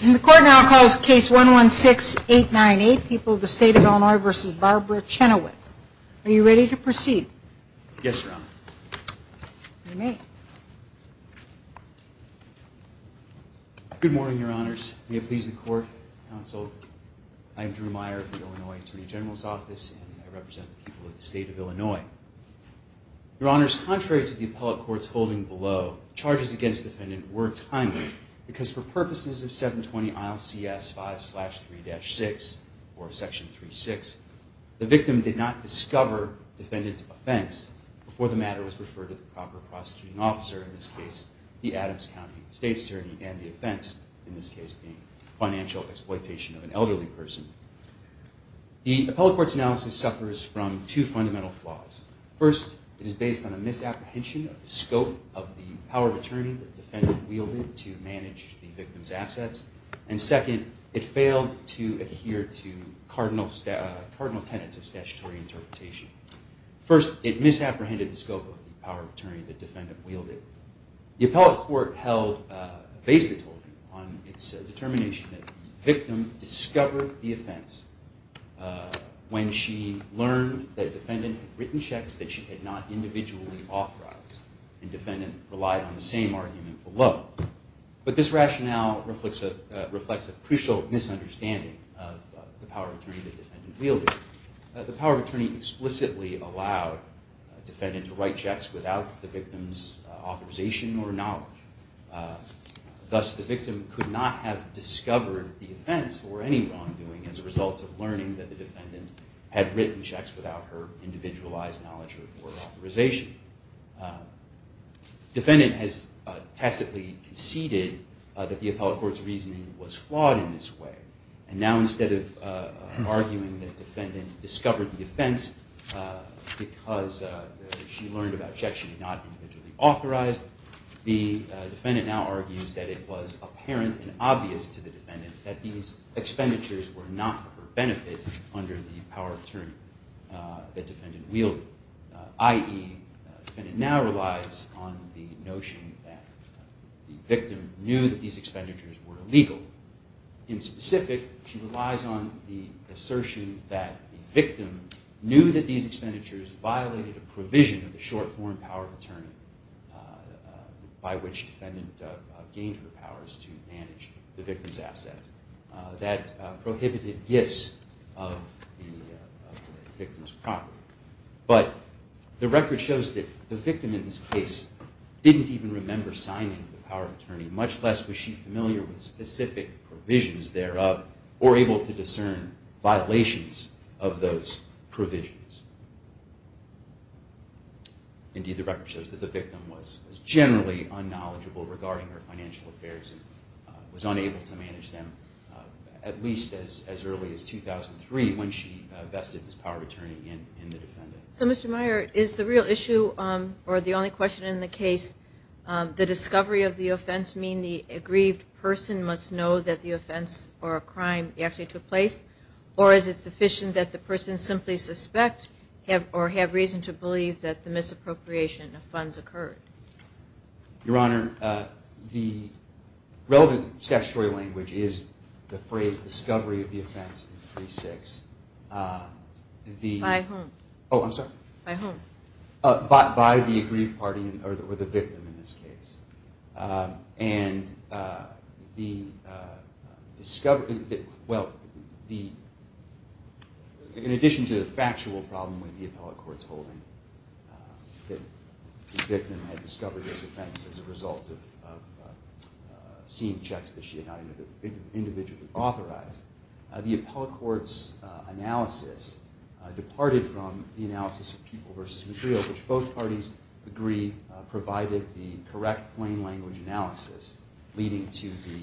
The Court now calls Case 116-898, People of the State of Illinois v. Barbara Chenoweth. Are you ready to proceed? Yes, Your Honor. You may. Good morning, Your Honors. May it please the Court, Counsel. I am Drew Meyer of the Illinois Attorney General's Office, and I represent the people of the State of Illinois. Your Honors, contrary to the appellate court's holding below, charges against the defendant were timely, because for purposes of 720 ILCS 5-3-6, or Section 3-6, the victim did not discover the defendant's offense before the matter was referred to the proper prosecuting officer, in this case, the Adams County State's attorney, and the offense, in this case, being financial exploitation of an elderly person. The appellate court's analysis suffers from two fundamental flaws. First, it is based on a misapprehension of the scope of the power of attorney that the defendant wielded to manage the victim's assets. And second, it failed to adhere to cardinal tenets of statutory interpretation. First, it misapprehended the scope of the power of attorney that the defendant wielded. The appellate court held a basic holding on its determination that the victim discovered the offense when she learned that the defendant had written checks that she had not individually authorized, and the defendant relied on the same argument below. But this rationale reflects a crucial misunderstanding of the power of attorney that the defendant wielded. The power of attorney explicitly allowed the defendant to write checks without the victim's authorization or knowledge. Thus, the victim could not have discovered the offense or any wrongdoing as a result of learning that the defendant had written checks without her individualized knowledge or authorization. The defendant has tacitly conceded that the appellate court's reasoning was flawed in this way, and now instead of arguing that the defendant discovered the offense because she learned about checks she had not individually authorized, the defendant now argues that it was apparent and obvious to the defendant that these expenditures were not for her benefit under the power of attorney that the defendant wielded. I.e., the defendant now relies on the notion that the victim knew that these expenditures were illegal. In specific, she relies on the assertion that the victim knew that these expenditures violated a provision of the short-form power of attorney by which the defendant gained her powers to manage the victim's assets. That prohibited gifts of the victim's property. But the record shows that the victim in this case didn't even remember signing the power of attorney, much less was she familiar with specific provisions thereof or able to discern violations of those provisions. Indeed, the record shows that the victim was generally unknowledgeable regarding her financial affairs and was unable to manage them at least as early as 2003 when she vested this power of attorney in the defendant. So, Mr. Meyer, is the real issue, or the only question in the case, the discovery of the offense mean the aggrieved person must know that the offense or a crime actually took place? Or is it sufficient that the person simply suspect or have reason to believe that the misappropriation of funds occurred? Your Honor, the relevant statutory language is the phrase discovery of the offense in 36. By whom? Oh, I'm sorry? By whom? By the aggrieved party or the victim in this case. And the discovery, well, in addition to the factual problem with the appellate court's holding that the victim had discovered this offense as a result of seeing checks that she had not individually authorized, the appellate court's analysis departed from the analysis of Pupil v. McGreal, which both parties agree provided the correct plain language analysis leading to the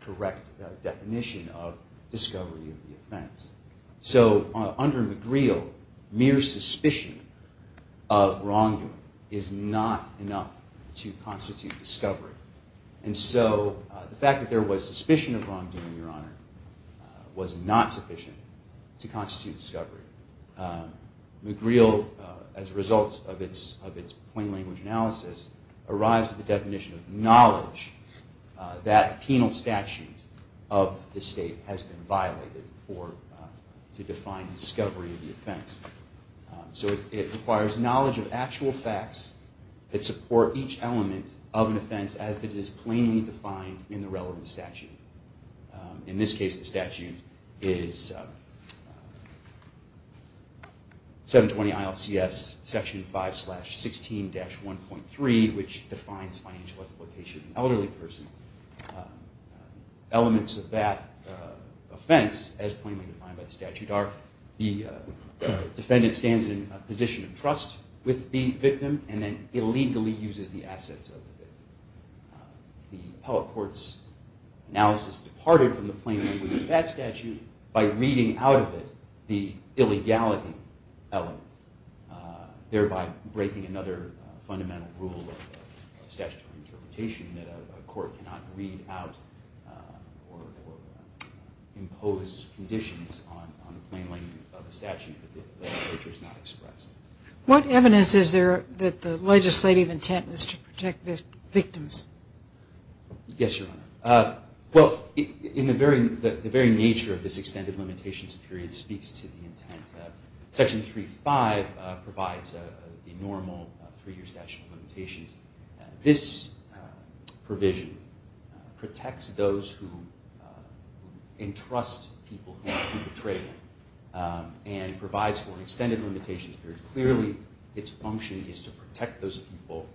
correct definition of discovery of the offense. So under McGreal, mere suspicion of wrongdoing is not enough to constitute discovery. And so the fact that there was suspicion of wrongdoing, Your Honor, was not sufficient to constitute discovery. McGreal, as a result of its plain language analysis, arrives at the definition of knowledge that a penal statute of the state has been violated to define discovery of the offense. So it requires knowledge of actual facts that support each element of an offense as it is plainly defined in the relevant statute. In this case, the statute is 720 ILCS Section 5-16-1.3, which defines financial exploitation of an elderly person. Elements of that offense, as plainly defined by the statute, are the defendant stands in a position of trust with the victim and then illegally uses the assets of the victim. The appellate court's analysis departed from the plain language of that statute by reading out of it the illegality element, thereby breaking another fundamental rule of statutory interpretation that a court cannot read out or impose conditions on the plain language of the statute that the legislature has not expressed. What evidence is there that the legislative intent is to protect the victims? Yes, Your Honor. Well, the very nature of this extended limitations period speaks to the intent. Section 3-5 provides the normal three-year statute of limitations. This provision protects those who entrust people who have been betrayed and provides for extended limitations period. Clearly, its function is to protect those people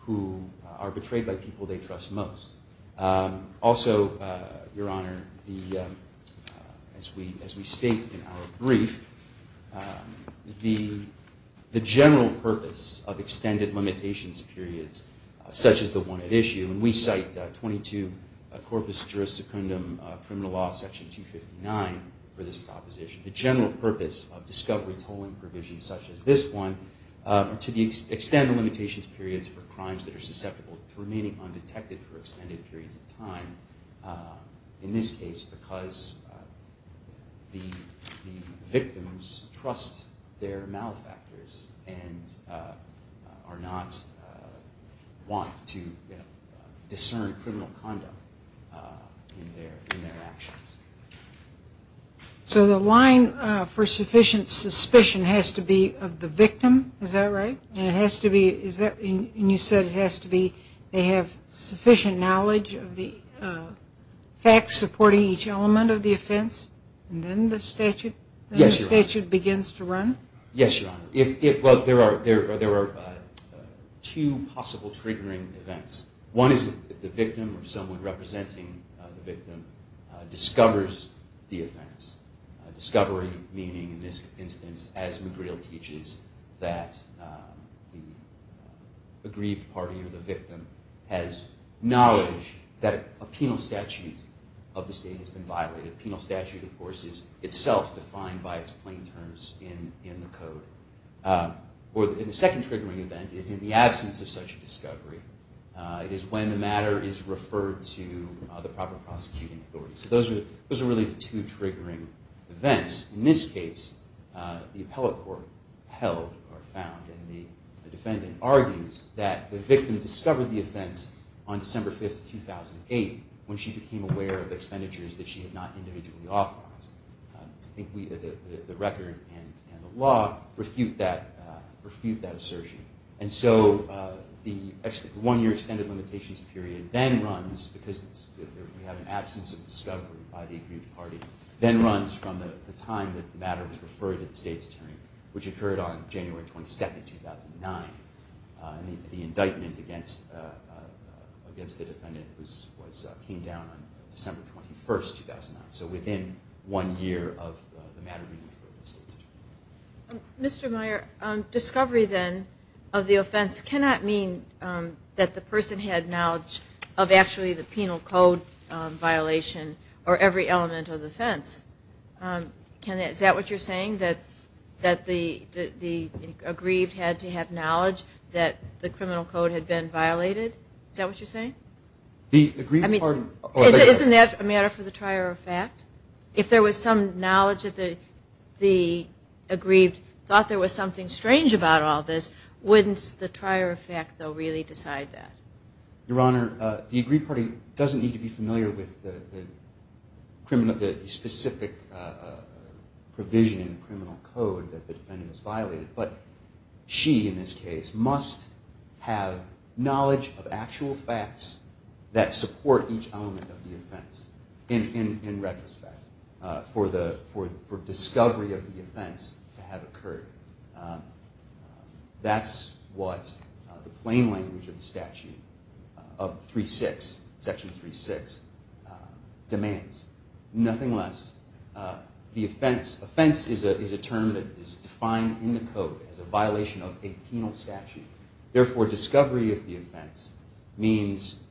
who are betrayed by people they trust most. Also, Your Honor, as we state in our brief, the general purpose of extended limitations periods such as the one at issue, and we cite 22 Corpus Juris Secundum Criminal Law Section 259 for this proposition, the general purpose of discovery tolling provisions such as this one to extend the limitations periods for crimes that are susceptible to remaining undetected for extended periods of time, in this case, because the victims trust their malefactors and are not wont to discern criminal conduct in their actions. So the line for sufficient suspicion has to be of the victim? Is that right? And it has to be, and you said it has to be, they have sufficient knowledge of the facts supporting each element of the offense? And then the statute begins to run? Yes, Your Honor. Well, there are two possible triggering events. One is if the victim or someone representing the victim discovers the offense. Discovery meaning, in this instance, as McGreal teaches, that the aggrieved party or the victim has knowledge that a penal statute of the state has been violated. Penal statute, of course, is itself defined by its plain terms in the code. And the second triggering event is in the absence of such a discovery. It is when the matter is referred to the proper prosecuting authority. So those are really the two triggering events. In this case, the appellate court held or found, and the defendant argues that the victim discovered the offense on December 5, 2008, when she became aware of expenditures that she had not individually authorized. I think the record and the law refute that assertion. And so the one-year extended limitations period then runs, because we have an absence of discovery by the aggrieved party, then runs from the time that the matter was referred to the state's attorney, which occurred on January 27, 2009, and the indictment against the defendant came down on December 21, 2009. So within one year of the matter being referred to the state's attorney. Mr. Meyer, discovery then of the offense cannot mean that the person had knowledge of actually the penal code violation or every element of the offense. Is that what you're saying, that the aggrieved had to have knowledge that the criminal code had been violated? Is that what you're saying? Isn't that a matter for the trier of fact? If there was some knowledge that the aggrieved thought there was something strange about all this, wouldn't the trier of fact, though, really decide that? Your Honor, the aggrieved party doesn't need to be familiar with the specific provision in criminal code that the defendant has violated, but she, in this case, must have knowledge of actual facts that support each element of the offense in retrospect for discovery of the offense to have occurred. That's what the plain language of the statute of section 3.6 demands. Nothing less. The offense is a term that is defined in the code as a violation of a penal statute. Therefore, discovery of the offense means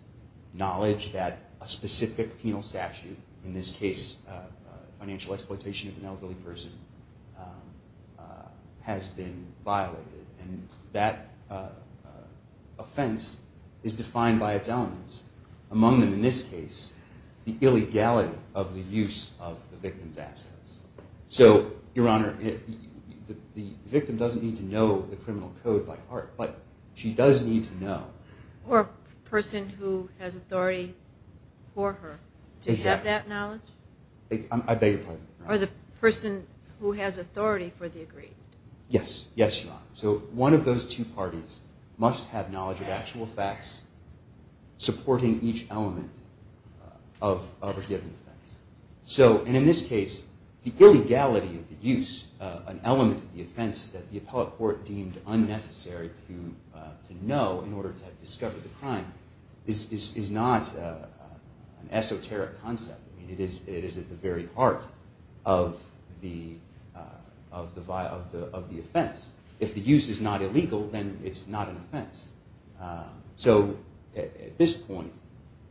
knowledge that a specific penal statute, in this case financial exploitation of an elderly person, has been violated. And that offense is defined by its elements. Among them, in this case, the illegality of the use of the victim's assets. So, Your Honor, the victim doesn't need to know the criminal code by heart, but she does need to know. Or a person who has authority for her to accept that knowledge? I beg your pardon? Or the person who has authority for the aggrieved? Yes. Yes, Your Honor. So one of those two parties must have knowledge of actual facts supporting each element of a given offense. So, and in this case, the illegality of the use, an element of the offense, that the appellate court deemed unnecessary to know in order to discover the crime is not an esoteric concept. It is at the very heart of the offense. If the use is not illegal, then it's not an offense. So at this point,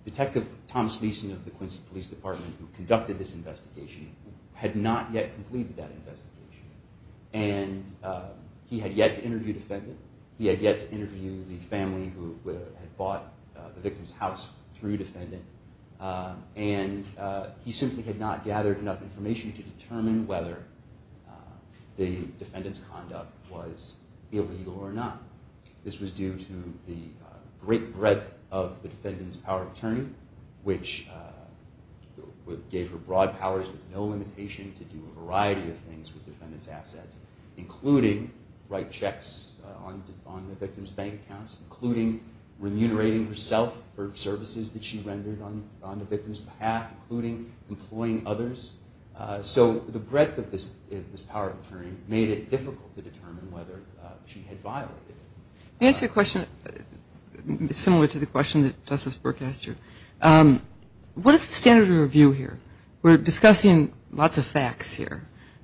Detective Tom Sleason of the Quincy Police Department, who conducted this investigation, had not yet completed that investigation. And he had yet to interview the defendant. He had yet to interview the family who had bought the victim's house through defendant. And he simply had not gathered enough information to determine whether the defendant's conduct was illegal or not. This was due to the great breadth of the defendant's power of attorney, which gave her broad powers with no limitation to do a variety of things with the defendant's assets, including write checks on the victim's bank accounts, including remunerating herself for services that she rendered on the victim's behalf, including employing others. So the breadth of this power of attorney made it difficult to determine whether she had violated it. Let me ask you a question similar to the question that Justice Burke asked you. What is the standard of review here? We're discussing lots of facts here,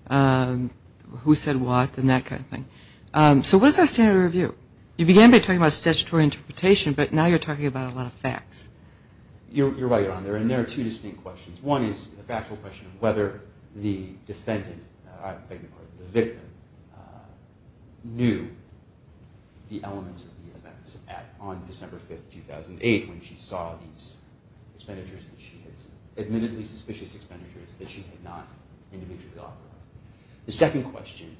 who said what and that kind of thing. So what is our standard of review? You began by talking about statutory interpretation, but now you're talking about a lot of facts. You're right on there. And there are two distinct questions. One is the factual question of whether the defendant, I beg your pardon, the victim, knew the elements of the events on December 5, 2008, when she saw these expenditures that she had, admittedly suspicious expenditures, that she had not individually authorized. The second question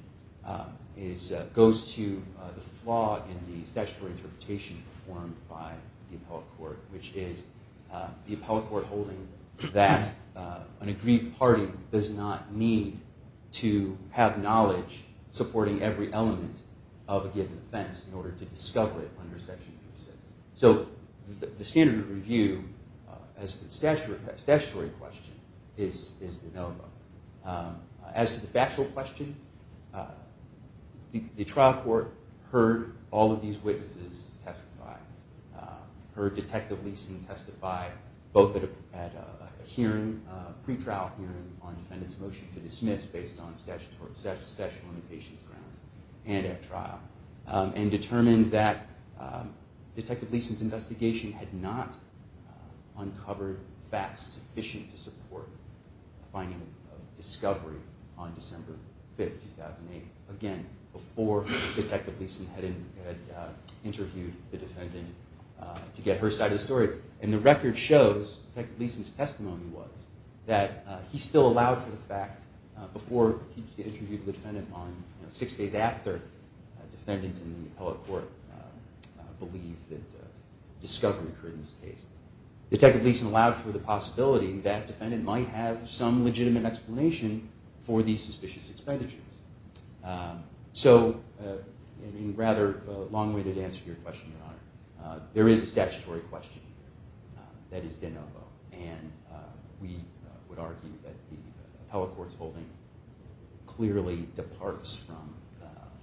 goes to the flaw in the statutory interpretation performed by the appellate court, which is the appellate court holding that an aggrieved party does not need to have knowledge supporting every element of a given offense in order to discover it under Section 36. So the standard of review as to the statutory question is the NOVA. As to the factual question, the trial court heard all of these witnesses testify, heard Detective Leeson testify both at a hearing, a pretrial hearing on the defendant's motion to dismiss based on statutory limitations grounds and at trial, and determined that Detective Leeson's investigation had not uncovered facts sufficient to support a finding of discovery on December 5, 2008, again, before Detective Leeson had interviewed the defendant to get her side of the story. And the record shows, Detective Leeson's testimony was, that he still allowed for the fact before he interviewed the defendant on six days after the defendant and the appellate court believed that discovery occurred in this case. Detective Leeson allowed for the possibility that the defendant might have some legitimate explanation for these suspicious expenditures. So, in a rather long-winded answer to your question, Your Honor, there is a statutory question here that is de novo, and we would argue that the appellate court's holding clearly departs from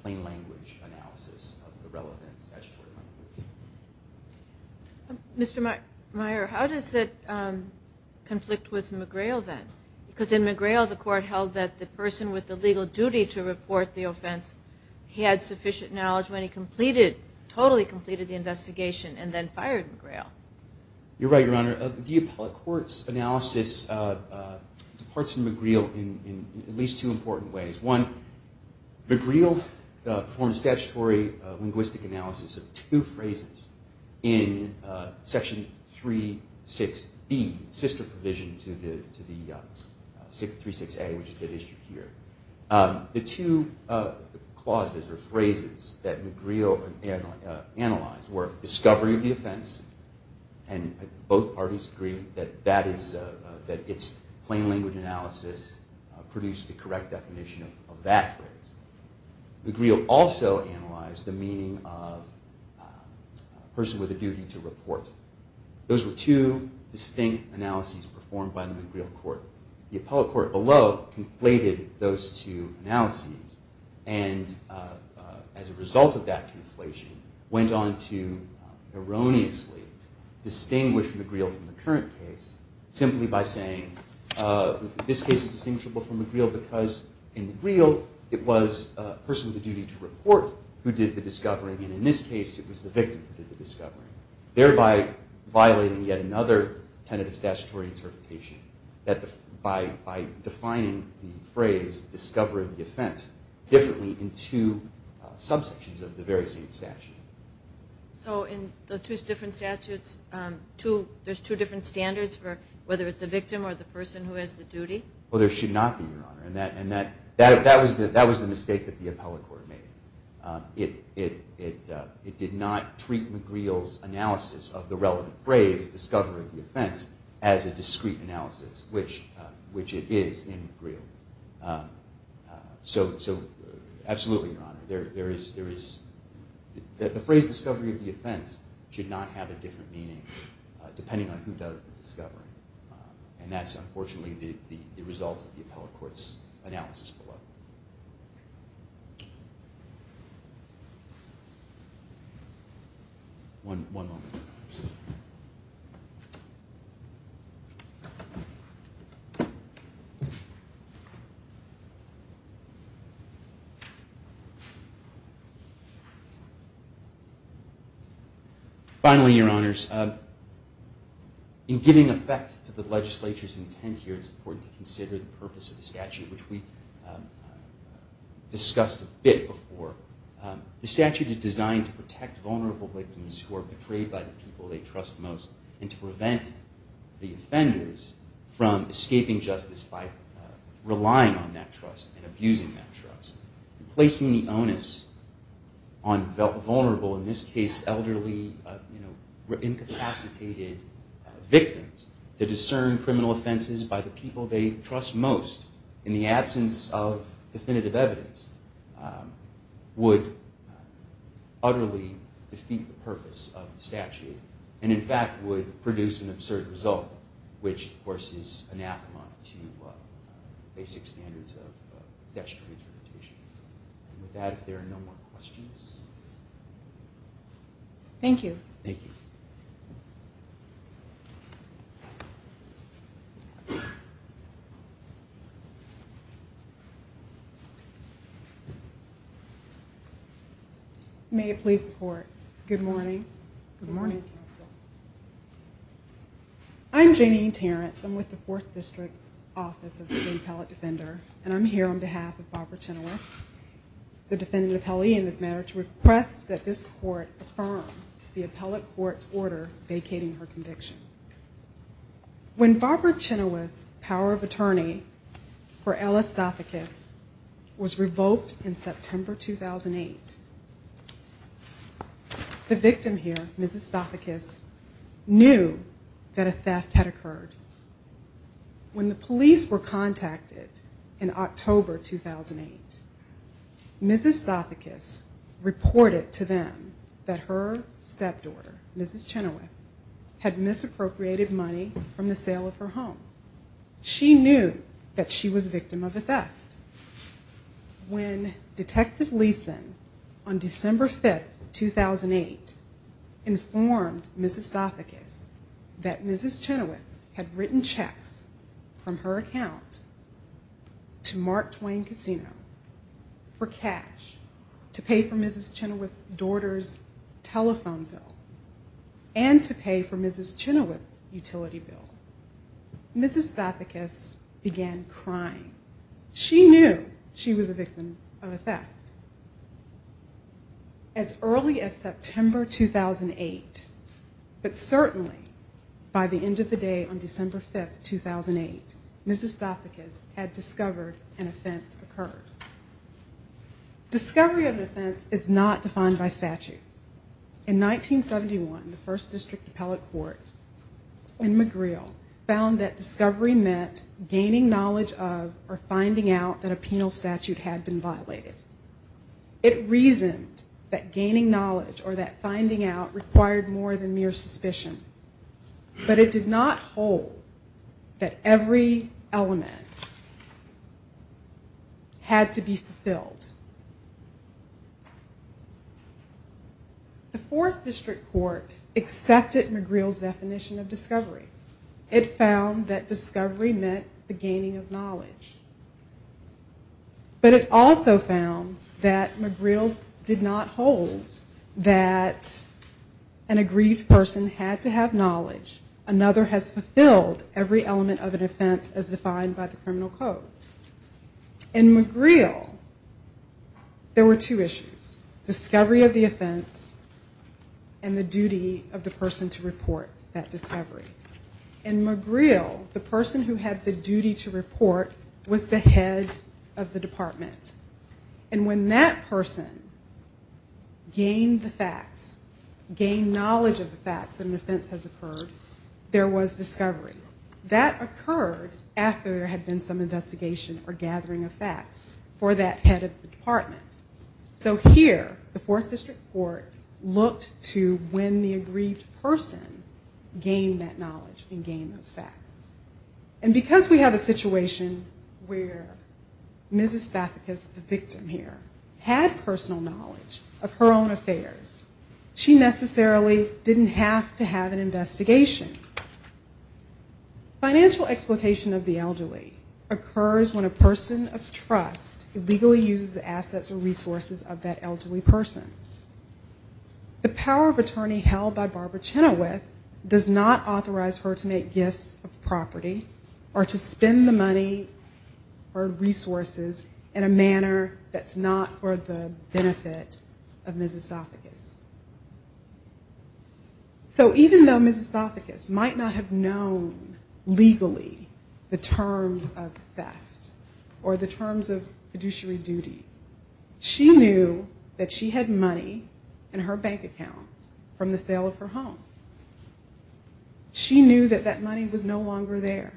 plain language analysis of the relevant statutory language. Mr. Meyer, how does that conflict with McGrail then? Because in McGrail, the court held that the person with the legal duty to report the offense had sufficient knowledge when he completed, totally completed the investigation and then fired McGrail. You're right, Your Honor. The appellate court's analysis departs from McGrail in at least two important ways. One, McGrail performed a statutory linguistic analysis of two phrases in Section 36B, sister provision to the 36A, which is at issue here. The two clauses or phrases that McGrail analyzed were discovery of the offense, and both parties agree that its plain language analysis produced the correct definition of that phrase. McGrail also analyzed the meaning of person with a duty to report. Those were two distinct analyses performed by the McGrail court. The appellate court below conflated those two analyses, and as a result of that conflation, went on to erroneously distinguish McGrail from the current case simply by saying this case is distinguishable from McGrail because in McGrail, it was a person with a duty to report who did the discovering, and in this case, it was the victim who did the discovering, thereby violating yet another tentative statutory interpretation that by defining the phrase discovery of the offense differently in two subsections of the very same statute. So in the two different statutes, there's two different standards for whether it's a victim or the person who has the duty? Well, there should not be, Your Honor, and that was the mistake that the appellate court made. It did not treat McGrail's analysis of the relevant phrase, discovery of the offense, as a discrete analysis, which it is in McGrail. So absolutely, Your Honor, the phrase discovery of the offense should not have a different meaning depending on who does the discovering, and that's unfortunately the result of the appellate court's analysis below. Finally, Your Honors, in giving effect to the legislature's intent here, it's important to consider the purpose of the statute, which we discussed a bit before. The statute is designed to protect vulnerable victims who are betrayed by the people they trust most and to prevent the offenders from escaping justice by relying on that trust and abusing that trust and placing the onus on vulnerable, in this case, elderly, incapacitated victims to discern criminal offenses by the people they trust most in the absence of definitive evidence would utterly defeat the purpose of the statute and, in fact, would produce an absurd result, which, of course, is anathema to basic standards of dexterity interpretation. And with that, if there are no more questions. Thank you. Thank you. May it please the Court, good morning. Good morning, counsel. I'm Janine Terrence. I'm with the Fourth District's Office of the State Appellate Defender, and I'm here on behalf of Barbara Chynoweth, the defendant appellee in this matter, to request that this Court affirm the appellate court's order vacating her conviction. When Barbara Chynoweth's power of attorney for Ella Stathakis was revoked in September 2008, the victim here, Ms. Stathakis, knew that a theft had occurred. When the police were contacted in October 2008, Ms. Stathakis reported to them that her stepdaughter, Ms. Chynoweth, had misappropriated money from the sale of her home. She knew that she was a victim of a theft. When Detective Leeson, on December 5, 2008, informed Ms. Stathakis that Ms. Chynoweth had written checks from her account to Mark Twain Casino for cash to pay for Ms. Chynoweth's daughter's telephone bill and to pay for Ms. Chynoweth's utility bill, Ms. Stathakis began crying. She knew she was a victim of a theft. As early as September 2008, but certainly by the end of the day on December 5, 2008, Ms. Stathakis had discovered an offense occurred. Discovery of an offense is not defined by statute. In 1971, the First District Appellate Court in McGreal found that discovery meant gaining knowledge of or finding out that a penal statute had been violated. It reasoned that gaining knowledge or that finding out required more than mere suspicion, but it did not hold that every element had to be fulfilled. The Fourth District Court accepted McGreal's definition of discovery. It found that discovery meant the gaining of knowledge. But it also found that McGreal did not hold that an aggrieved person had to have knowledge. Another has fulfilled every element of an offense as defined by the criminal code. In McGreal, there were two issues, discovery of the offense and the duty of the person to report that discovery. In McGreal, the person who had the duty to report was the head of the department. And when that person gained the facts, gained knowledge of the facts that an offense has occurred, there was discovery. That occurred after there had been some investigation or gathering of facts for that head of the department. So here, the Fourth District Court looked to when the aggrieved person gained that knowledge and gained those facts. And because we have a situation where Mrs. Spathicus, the victim here, had personal knowledge of her own affairs, she necessarily didn't have to have an investigation. Financial exploitation of the elderly occurs when a person of trust illegally uses the assets or resources of that elderly person. The power of attorney held by Barbara Chenoweth does not authorize her to make gifts of property or to spend the money or resources in a manner that's not for the benefit of Mrs. Spathicus. So even though Mrs. Spathicus might not have known legally the terms of theft or the terms of fiduciary duty, she knew that she had money in her bank account from the sale of her home. She knew that that money was no longer there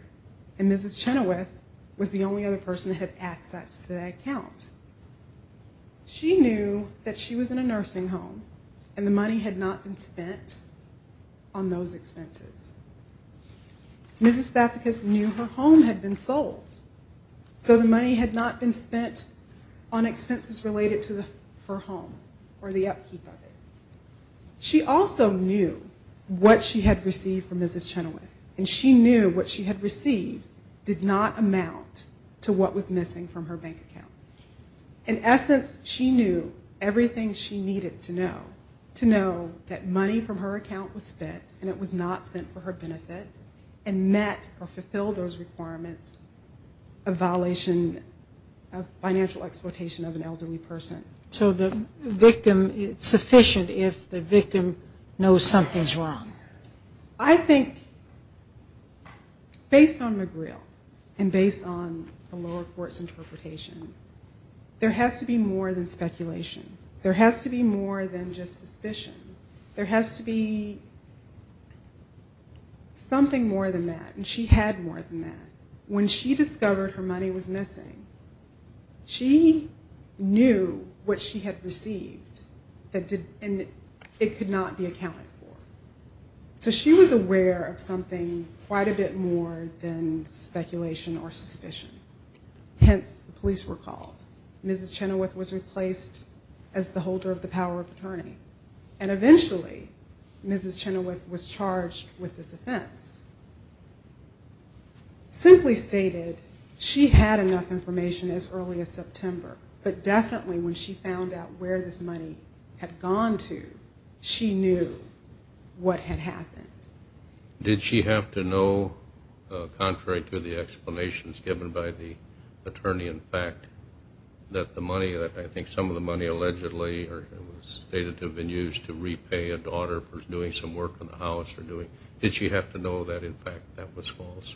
and Mrs. Chenoweth was the only other person that had access to that account. She knew that she was in a nursing home and the money had not been spent on those expenses. Mrs. Spathicus knew her home had been sold, so the money had not been spent on expenses related to her home or the upkeep of it. She also knew what she had received from Mrs. Chenoweth and she knew what she had received did not amount to what was missing from her bank account. In essence, she knew everything she needed to know that money from her account was spent and it was not spent for her benefit and met or fulfilled those requirements of violation of financial exploitation of an elderly person. So the victim, it's sufficient if the victim knows something's wrong. I think based on McGreal and based on the lower court's interpretation, there has to be more than speculation. There has to be more than just suspicion. There has to be something more than that and she had more than that. When she discovered her money was missing, she knew what she had received and it could not be accounted for. So she was aware of something quite a bit more than speculation or suspicion. Hence, the police were called. Mrs. Chenoweth was replaced as the holder of the power of attorney and eventually Mrs. Chenoweth was charged with this offense. Simply stated, she had enough information as early as September, but definitely when she found out where this money had gone to, she knew what had happened. Did she have to know, contrary to the explanations given by the attorney, in fact, that the money, that I think some of the money allegedly was stated to have been used to repay a daughter for doing some work in the house or doing, did she have to know that, in fact, that was false?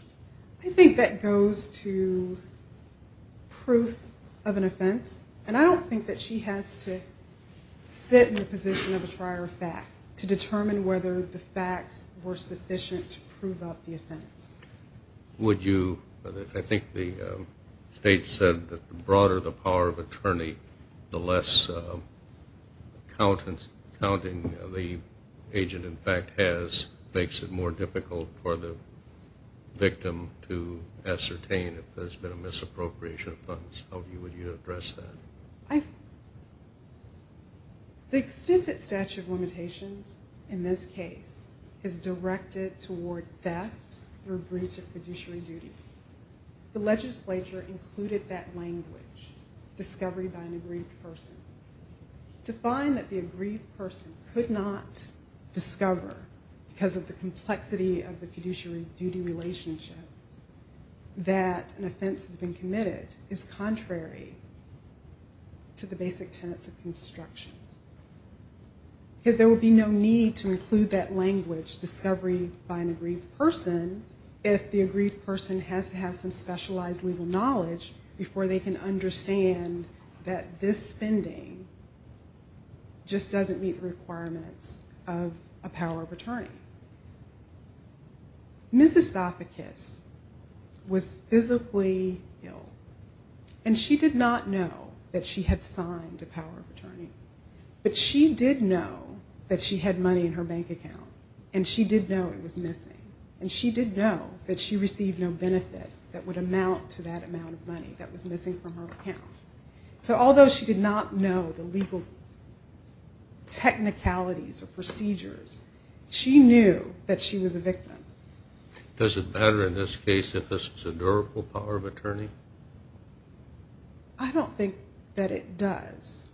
I think that goes to proof of an offense and I don't think that she has to sit in the position of a trier of fact to determine whether the facts were sufficient to prove out the offense. Would you, I think the state said that the broader the power of attorney, the less counting the agent, in fact, has, makes it more difficult for the victim to ascertain if there's been a misappropriation of funds. How would you address that? The extended statute of limitations in this case is directed toward theft or breach of fiduciary duty. The legislature included that language, discovery by an aggrieved person. To find that the aggrieved person could not discover, because of the complexity of the fiduciary duty relationship, that an offense has been committed is contrary to the basic tenets of construction. Because there would be no need to include that language, discovery by an aggrieved person, if the aggrieved person has to have some specialized legal knowledge before they can understand that this spending just doesn't meet the requirements of a power of attorney. Ms. Estathakis was physically ill, and she did not know that she had signed a power of attorney. But she did know that she had money in her bank account, and she did know it was missing. And she did know that she received no benefit that would amount to that amount of money that was missing from her account. So although she did not know the legal technicalities or procedures, she knew that she was a victim. Does it matter in this case if this is a durable power of attorney? I don't think that it does,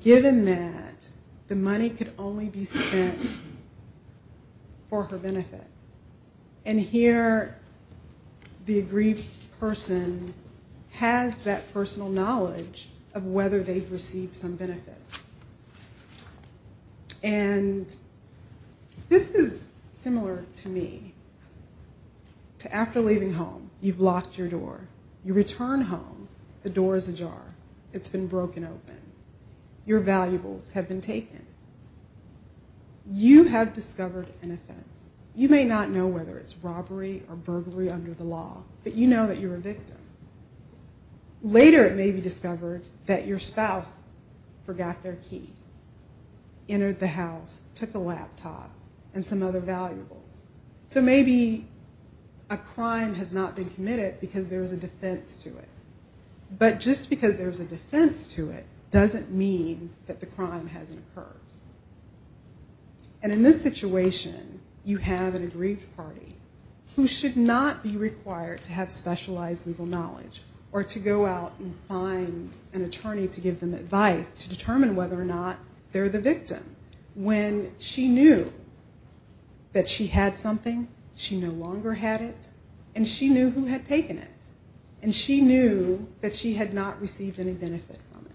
given that the money could only be spent for her benefit. And here the aggrieved person has that personal knowledge of whether they've received some benefit. And this is similar to me. After leaving home, you've locked your door. You return home, the door is ajar. It's been broken open. Your valuables have been taken. You have discovered an offense. You may not know whether it's robbery or burglary under the law, but you know that you're a victim. Later it may be discovered that your spouse forgot their key, entered the house, took a laptop, and some other valuables. So maybe a crime has not been committed because there is a defense to it. But just because there is a defense to it doesn't mean that the crime hasn't occurred. And in this situation, you have an aggrieved party who should not be required to have specialized legal knowledge or to go out and find an attorney to give them advice to determine whether or not they're the victim. When she knew that she had something, she no longer had it, and she knew who had taken it, and she knew that she had not received any benefit from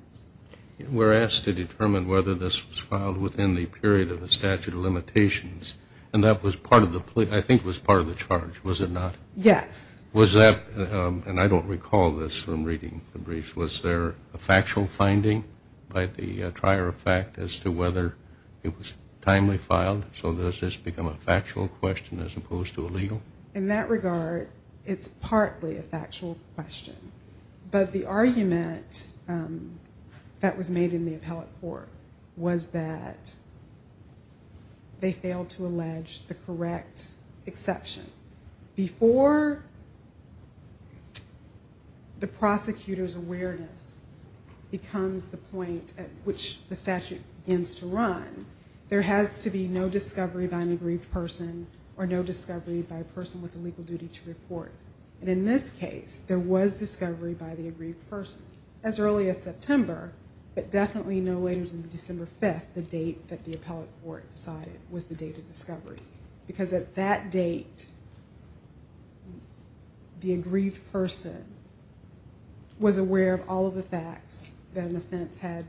it. We're asked to determine whether this was filed within the period of the statute of limitations, and that was part of the charge, was it not? Yes. Was that, and I don't recall this from reading the briefs, was there a factual finding by the trier of fact as to whether it was timely filed? So does this become a factual question as opposed to a legal? In that regard, it's partly a factual question. But the argument that was made in the appellate court was that they failed to allege the correct exception. Before the prosecutor's awareness becomes the point at which the statute begins to run, there has to be no discovery by an aggrieved person or no discovery by a person with a legal duty to report. And in this case, there was discovery by the aggrieved person as early as September, but definitely no later than December 5th, the date that the appellate court decided was the date of discovery, because at that date, the aggrieved person was aware of all of the facts that an offense had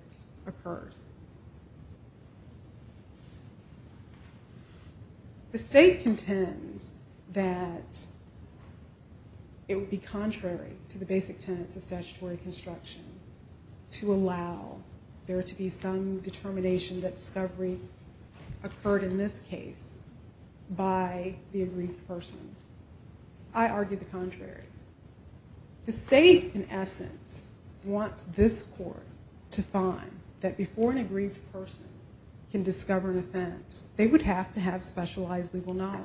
occurred. The state contends that it would be contrary to the basic tenets of statutory construction to allow there to be some determination that discovery occurred in this case by the aggrieved person. I argue the contrary. The state, in essence, wants this court to find that before an aggrieved person can discover an offense, they would have to have specialized legal knowledge.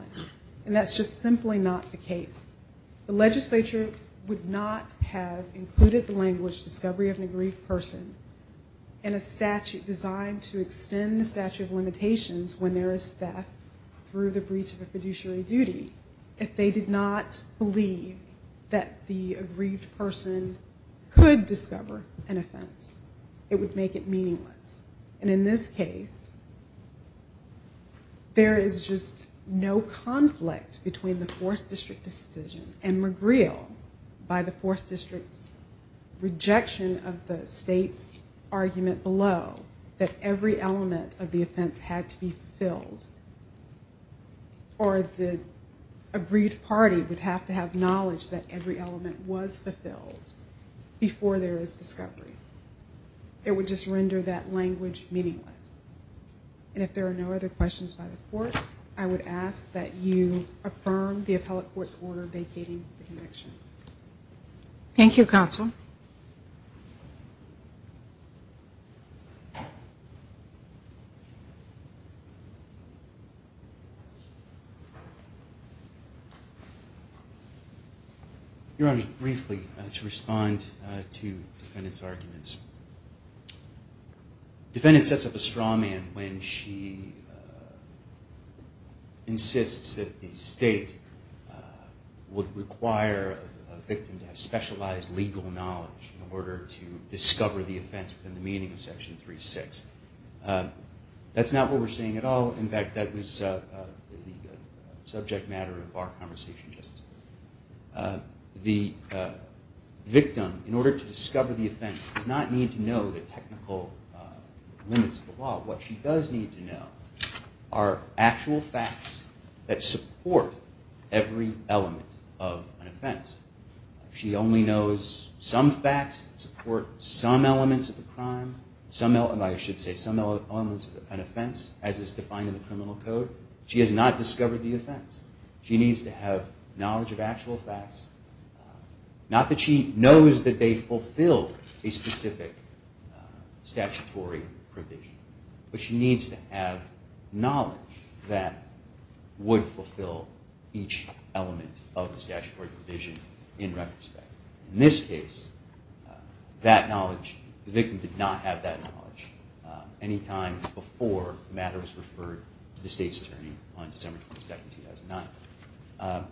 And that's just simply not the case. The legislature would not have included the language discovery of an aggrieved person in a statute designed to extend the statute of limitations when there is theft through the breach of a fiduciary duty if they did not believe that the aggrieved person could discover an offense. It would make it meaningless. And in this case, there is just no conflict between the 4th District decision and McGreal by the 4th District's rejection of the state's argument below that every element of the offense had to be fulfilled or the aggrieved party would have to have knowledge that every element was fulfilled before there is discovery. It would just render that language meaningless. And if there are no other questions by the court, I would ask that you affirm the appellate court's order vacating the connection. Thank you, Counsel. Your Honor, briefly, to respond to the defendant's arguments. The defendant sets up a straw man when she insists that the state would require a victim to have specialized legal knowledge in order to discover the offense within the meaning of Section 3.6. That's not what we're seeing at all. In fact, that was a subject matter of our conversation, Justice. The victim, in order to discover the offense, does not need to know the technical limits of the law. What she does need to know are actual facts that support every element of an offense. If she only knows some facts that support some elements of the crime, I should say some elements of an offense, as is defined in the criminal code, she has not discovered the offense. She needs to have knowledge of actual facts. Not that she knows that they fulfill a specific statutory provision, but she needs to have knowledge that would fulfill each element of the statutory provision in retrospect. In this case, that knowledge, the victim did not have that knowledge any time before the matter was referred to the state's attorney on December 27, 2009.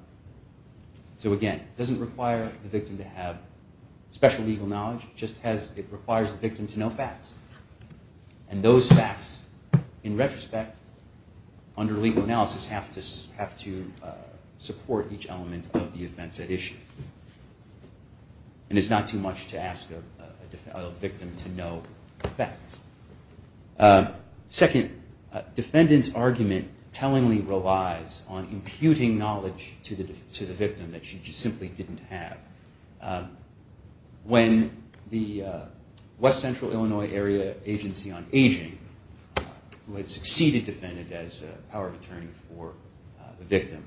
So again, it doesn't require the victim to have special legal knowledge, it just requires the victim to know facts. And those facts, in retrospect, under legal analysis, have to support each element of the offense at issue. And it's not too much to ask a victim to know facts. Second, defendant's argument tellingly relies on imputing knowledge to the victim that she just simply didn't have. When the West Central Illinois Area Agency on Aging, who had succeeded the defendant as a power of attorney for the victim,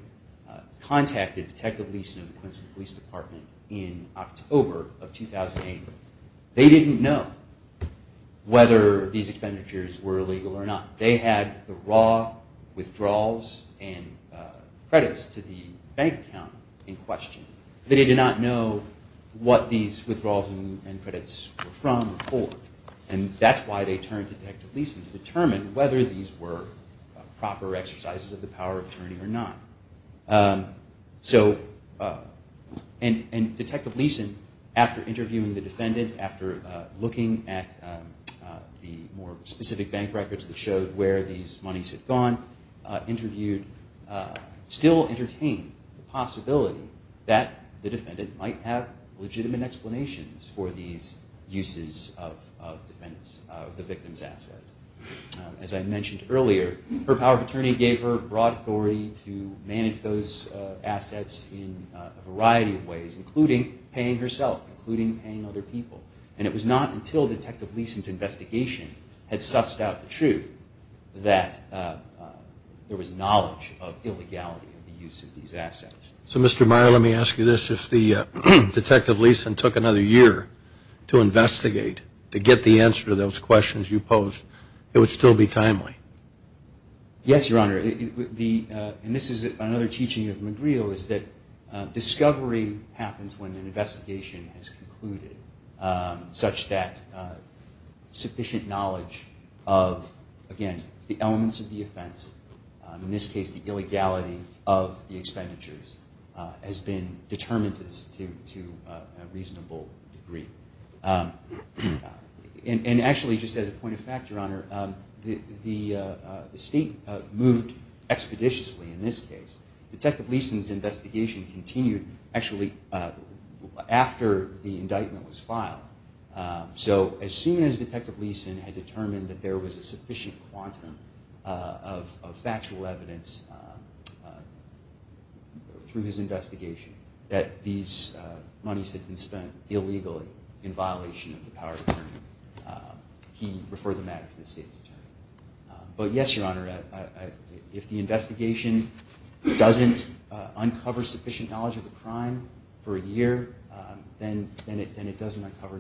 contacted Detective Leason of the Quincy Police Department in October of 2008, they didn't know whether these expenditures were illegal or not. They had the raw withdrawals and credits to the bank account in question. They did not know what these withdrawals and credits were from or for. And that's why they turned to Detective Leason to determine whether these were proper exercises of the power of attorney or not. So, and Detective Leason, after interviewing the defendant, after looking at the more specific bank records that showed where these monies had gone, interviewed, still entertained the possibility that the defendant might have legitimate explanations for these uses of the victim's assets. As I mentioned earlier, her power of attorney gave her broad authority to manage those assets in a variety of ways, including paying herself, including paying other people. And it was not until Detective Leason's investigation had sussed out the truth that there was knowledge of illegality of the use of these assets. So, Mr. Meyer, let me ask you this. If Detective Leason took another year to investigate, to get the answer to those questions you posed, it would still be timely? Yes, Your Honor. And this is another teaching of Magrillo, is that discovery happens when an investigation has concluded, such that sufficient knowledge of, again, the elements of the offense, in this case the illegality of the expenditures, has been determined to a reasonable degree. And actually, just as a point of fact, Your Honor, the state moved expeditiously in this case. Detective Leason's investigation continued, actually, after the indictment was filed. So as soon as Detective Leason had determined that there was a sufficient quantum of factual evidence through his investigation that these monies had been spent illegally in violation of the power of attorney, he referred the matter to the state's attorney. But yes, Your Honor, if the investigation doesn't uncover sufficient knowledge of the crime for a year, then it doesn't uncover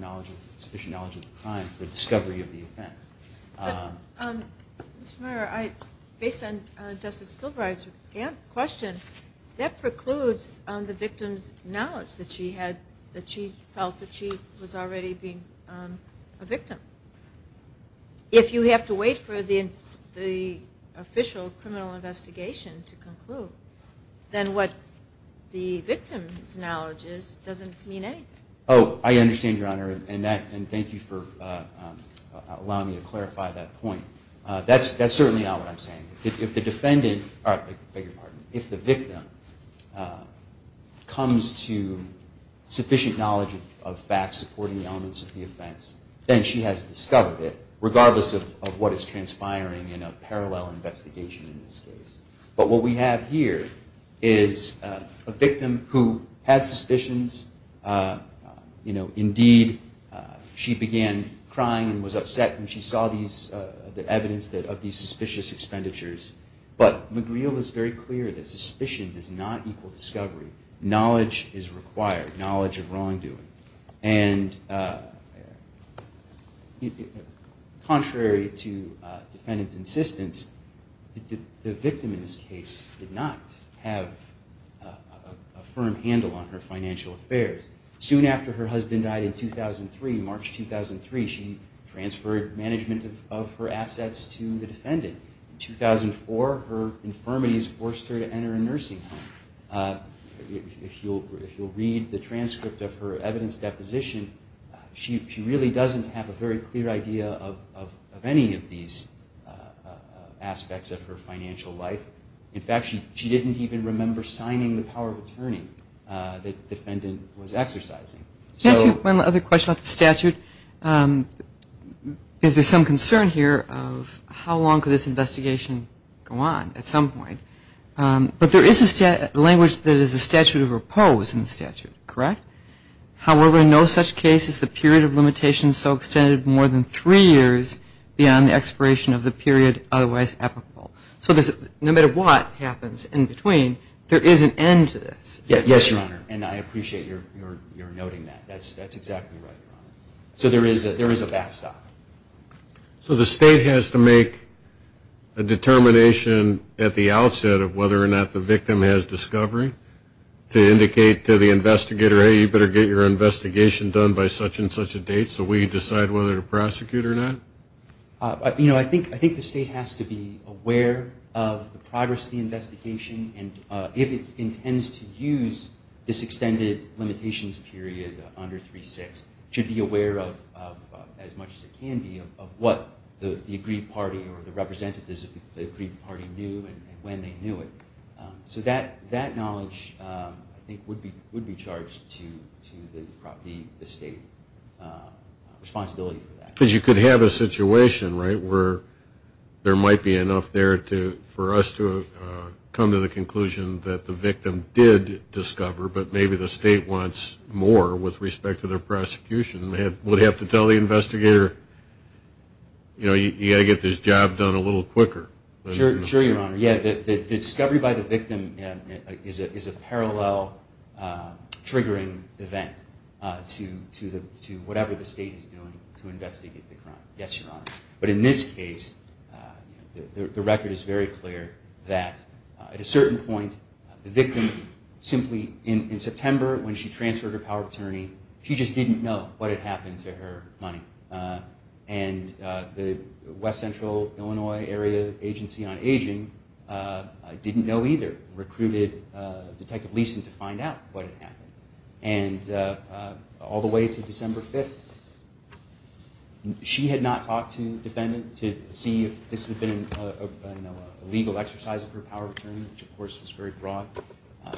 sufficient knowledge of the crime for the discovery of the offense. Mr. Meyer, based on Justice Kilbride's question, that precludes the victim's knowledge that she felt that she was already being a victim. If you have to wait for the official criminal investigation to conclude, then what the victim's knowledge is doesn't mean anything. Oh, I understand, Your Honor, and thank you for allowing me to clarify that point. That's certainly not what I'm saying. If the victim comes to sufficient knowledge of facts supporting the elements of the offense, then she has discovered it, regardless of what is transpiring in a parallel investigation in this case. But what we have here is a victim who had suspicions. Indeed, she began crying and was upset when she saw the evidence of these suspicious expenditures. But McGreal is very clear that suspicion does not equal discovery. Knowledge is required, knowledge of wrongdoing. And contrary to defendant's insistence, the victim in this case did not have a firm handle on her financial affairs. Soon after her husband died in 2003, March 2003, she transferred management of her assets to the defendant. In 2004, her infirmities forced her to enter a nursing home. If you'll read the transcript of her evidence deposition, she really doesn't have a very clear idea of any of these aspects of her financial life. In fact, she didn't even remember signing the power of attorney that the defendant was exercising. One other question about the statute. Is there some concern here of how long could this investigation go on at some point? But there is a language that is a statute of repose in the statute, correct? However, in no such case is the period of limitation so extended more than three years beyond the expiration of the period otherwise applicable. So no matter what happens in between, there is an end to this. Yes, Your Honor, and I appreciate your noting that. That's exactly right, Your Honor. So there is a backstop. So the state has to make a determination at the outset of whether or not the victim has discovery to indicate to the investigator, hey, you better get your investigation done by such and such a date so we decide whether to prosecute or not? You know, I think the state has to be aware of the progress of the investigation and if it intends to use this extended limitations period under 3-6, should be aware of, as much as it can be, of what the aggrieved party or the representatives of the aggrieved party knew and when they knew it. So that knowledge, I think, would be charged to the state responsibility for that. Because you could have a situation, right, where there might be enough there for us to come to the conclusion that the victim did discover, but maybe the state wants more with respect to their prosecution and would have to tell the investigator, you know, you've got to get this job done a little quicker. Sure, Your Honor. Yeah, the discovery by the victim is a parallel triggering event to whatever the state is doing to investigate the crime. Yes, Your Honor. But in this case, the record is very clear that at a certain point, the victim simply in September when she transferred her power of attorney, she just didn't know what had happened to her money. And the West Central Illinois Area Agency on Aging didn't know either, and all the way to December 5th. She had not talked to the defendant to see if this had been a legal exercise of her power of attorney, which, of course, was very broad.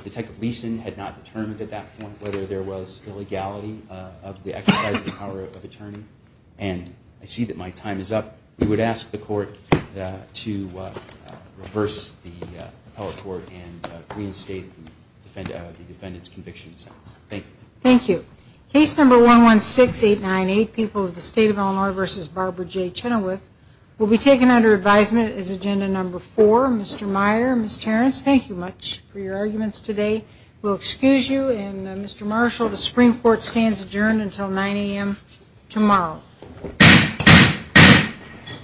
Detective Leeson had not determined at that point whether there was illegality of the exercise of the power of attorney. And I see that my time is up. We would ask the court to reverse the appellate court and reinstate the defendant's conviction in sentence. Thank you. Thank you. Case number 116898, People of the State of Illinois v. Barbara J. Chenoweth, will be taken under advisement as agenda number four. Mr. Meyer, Ms. Terrence, thank you much for your arguments today. We'll excuse you. And Mr. Marshall, the Supreme Court stands adjourned until 9 a.m. tomorrow. Thank you.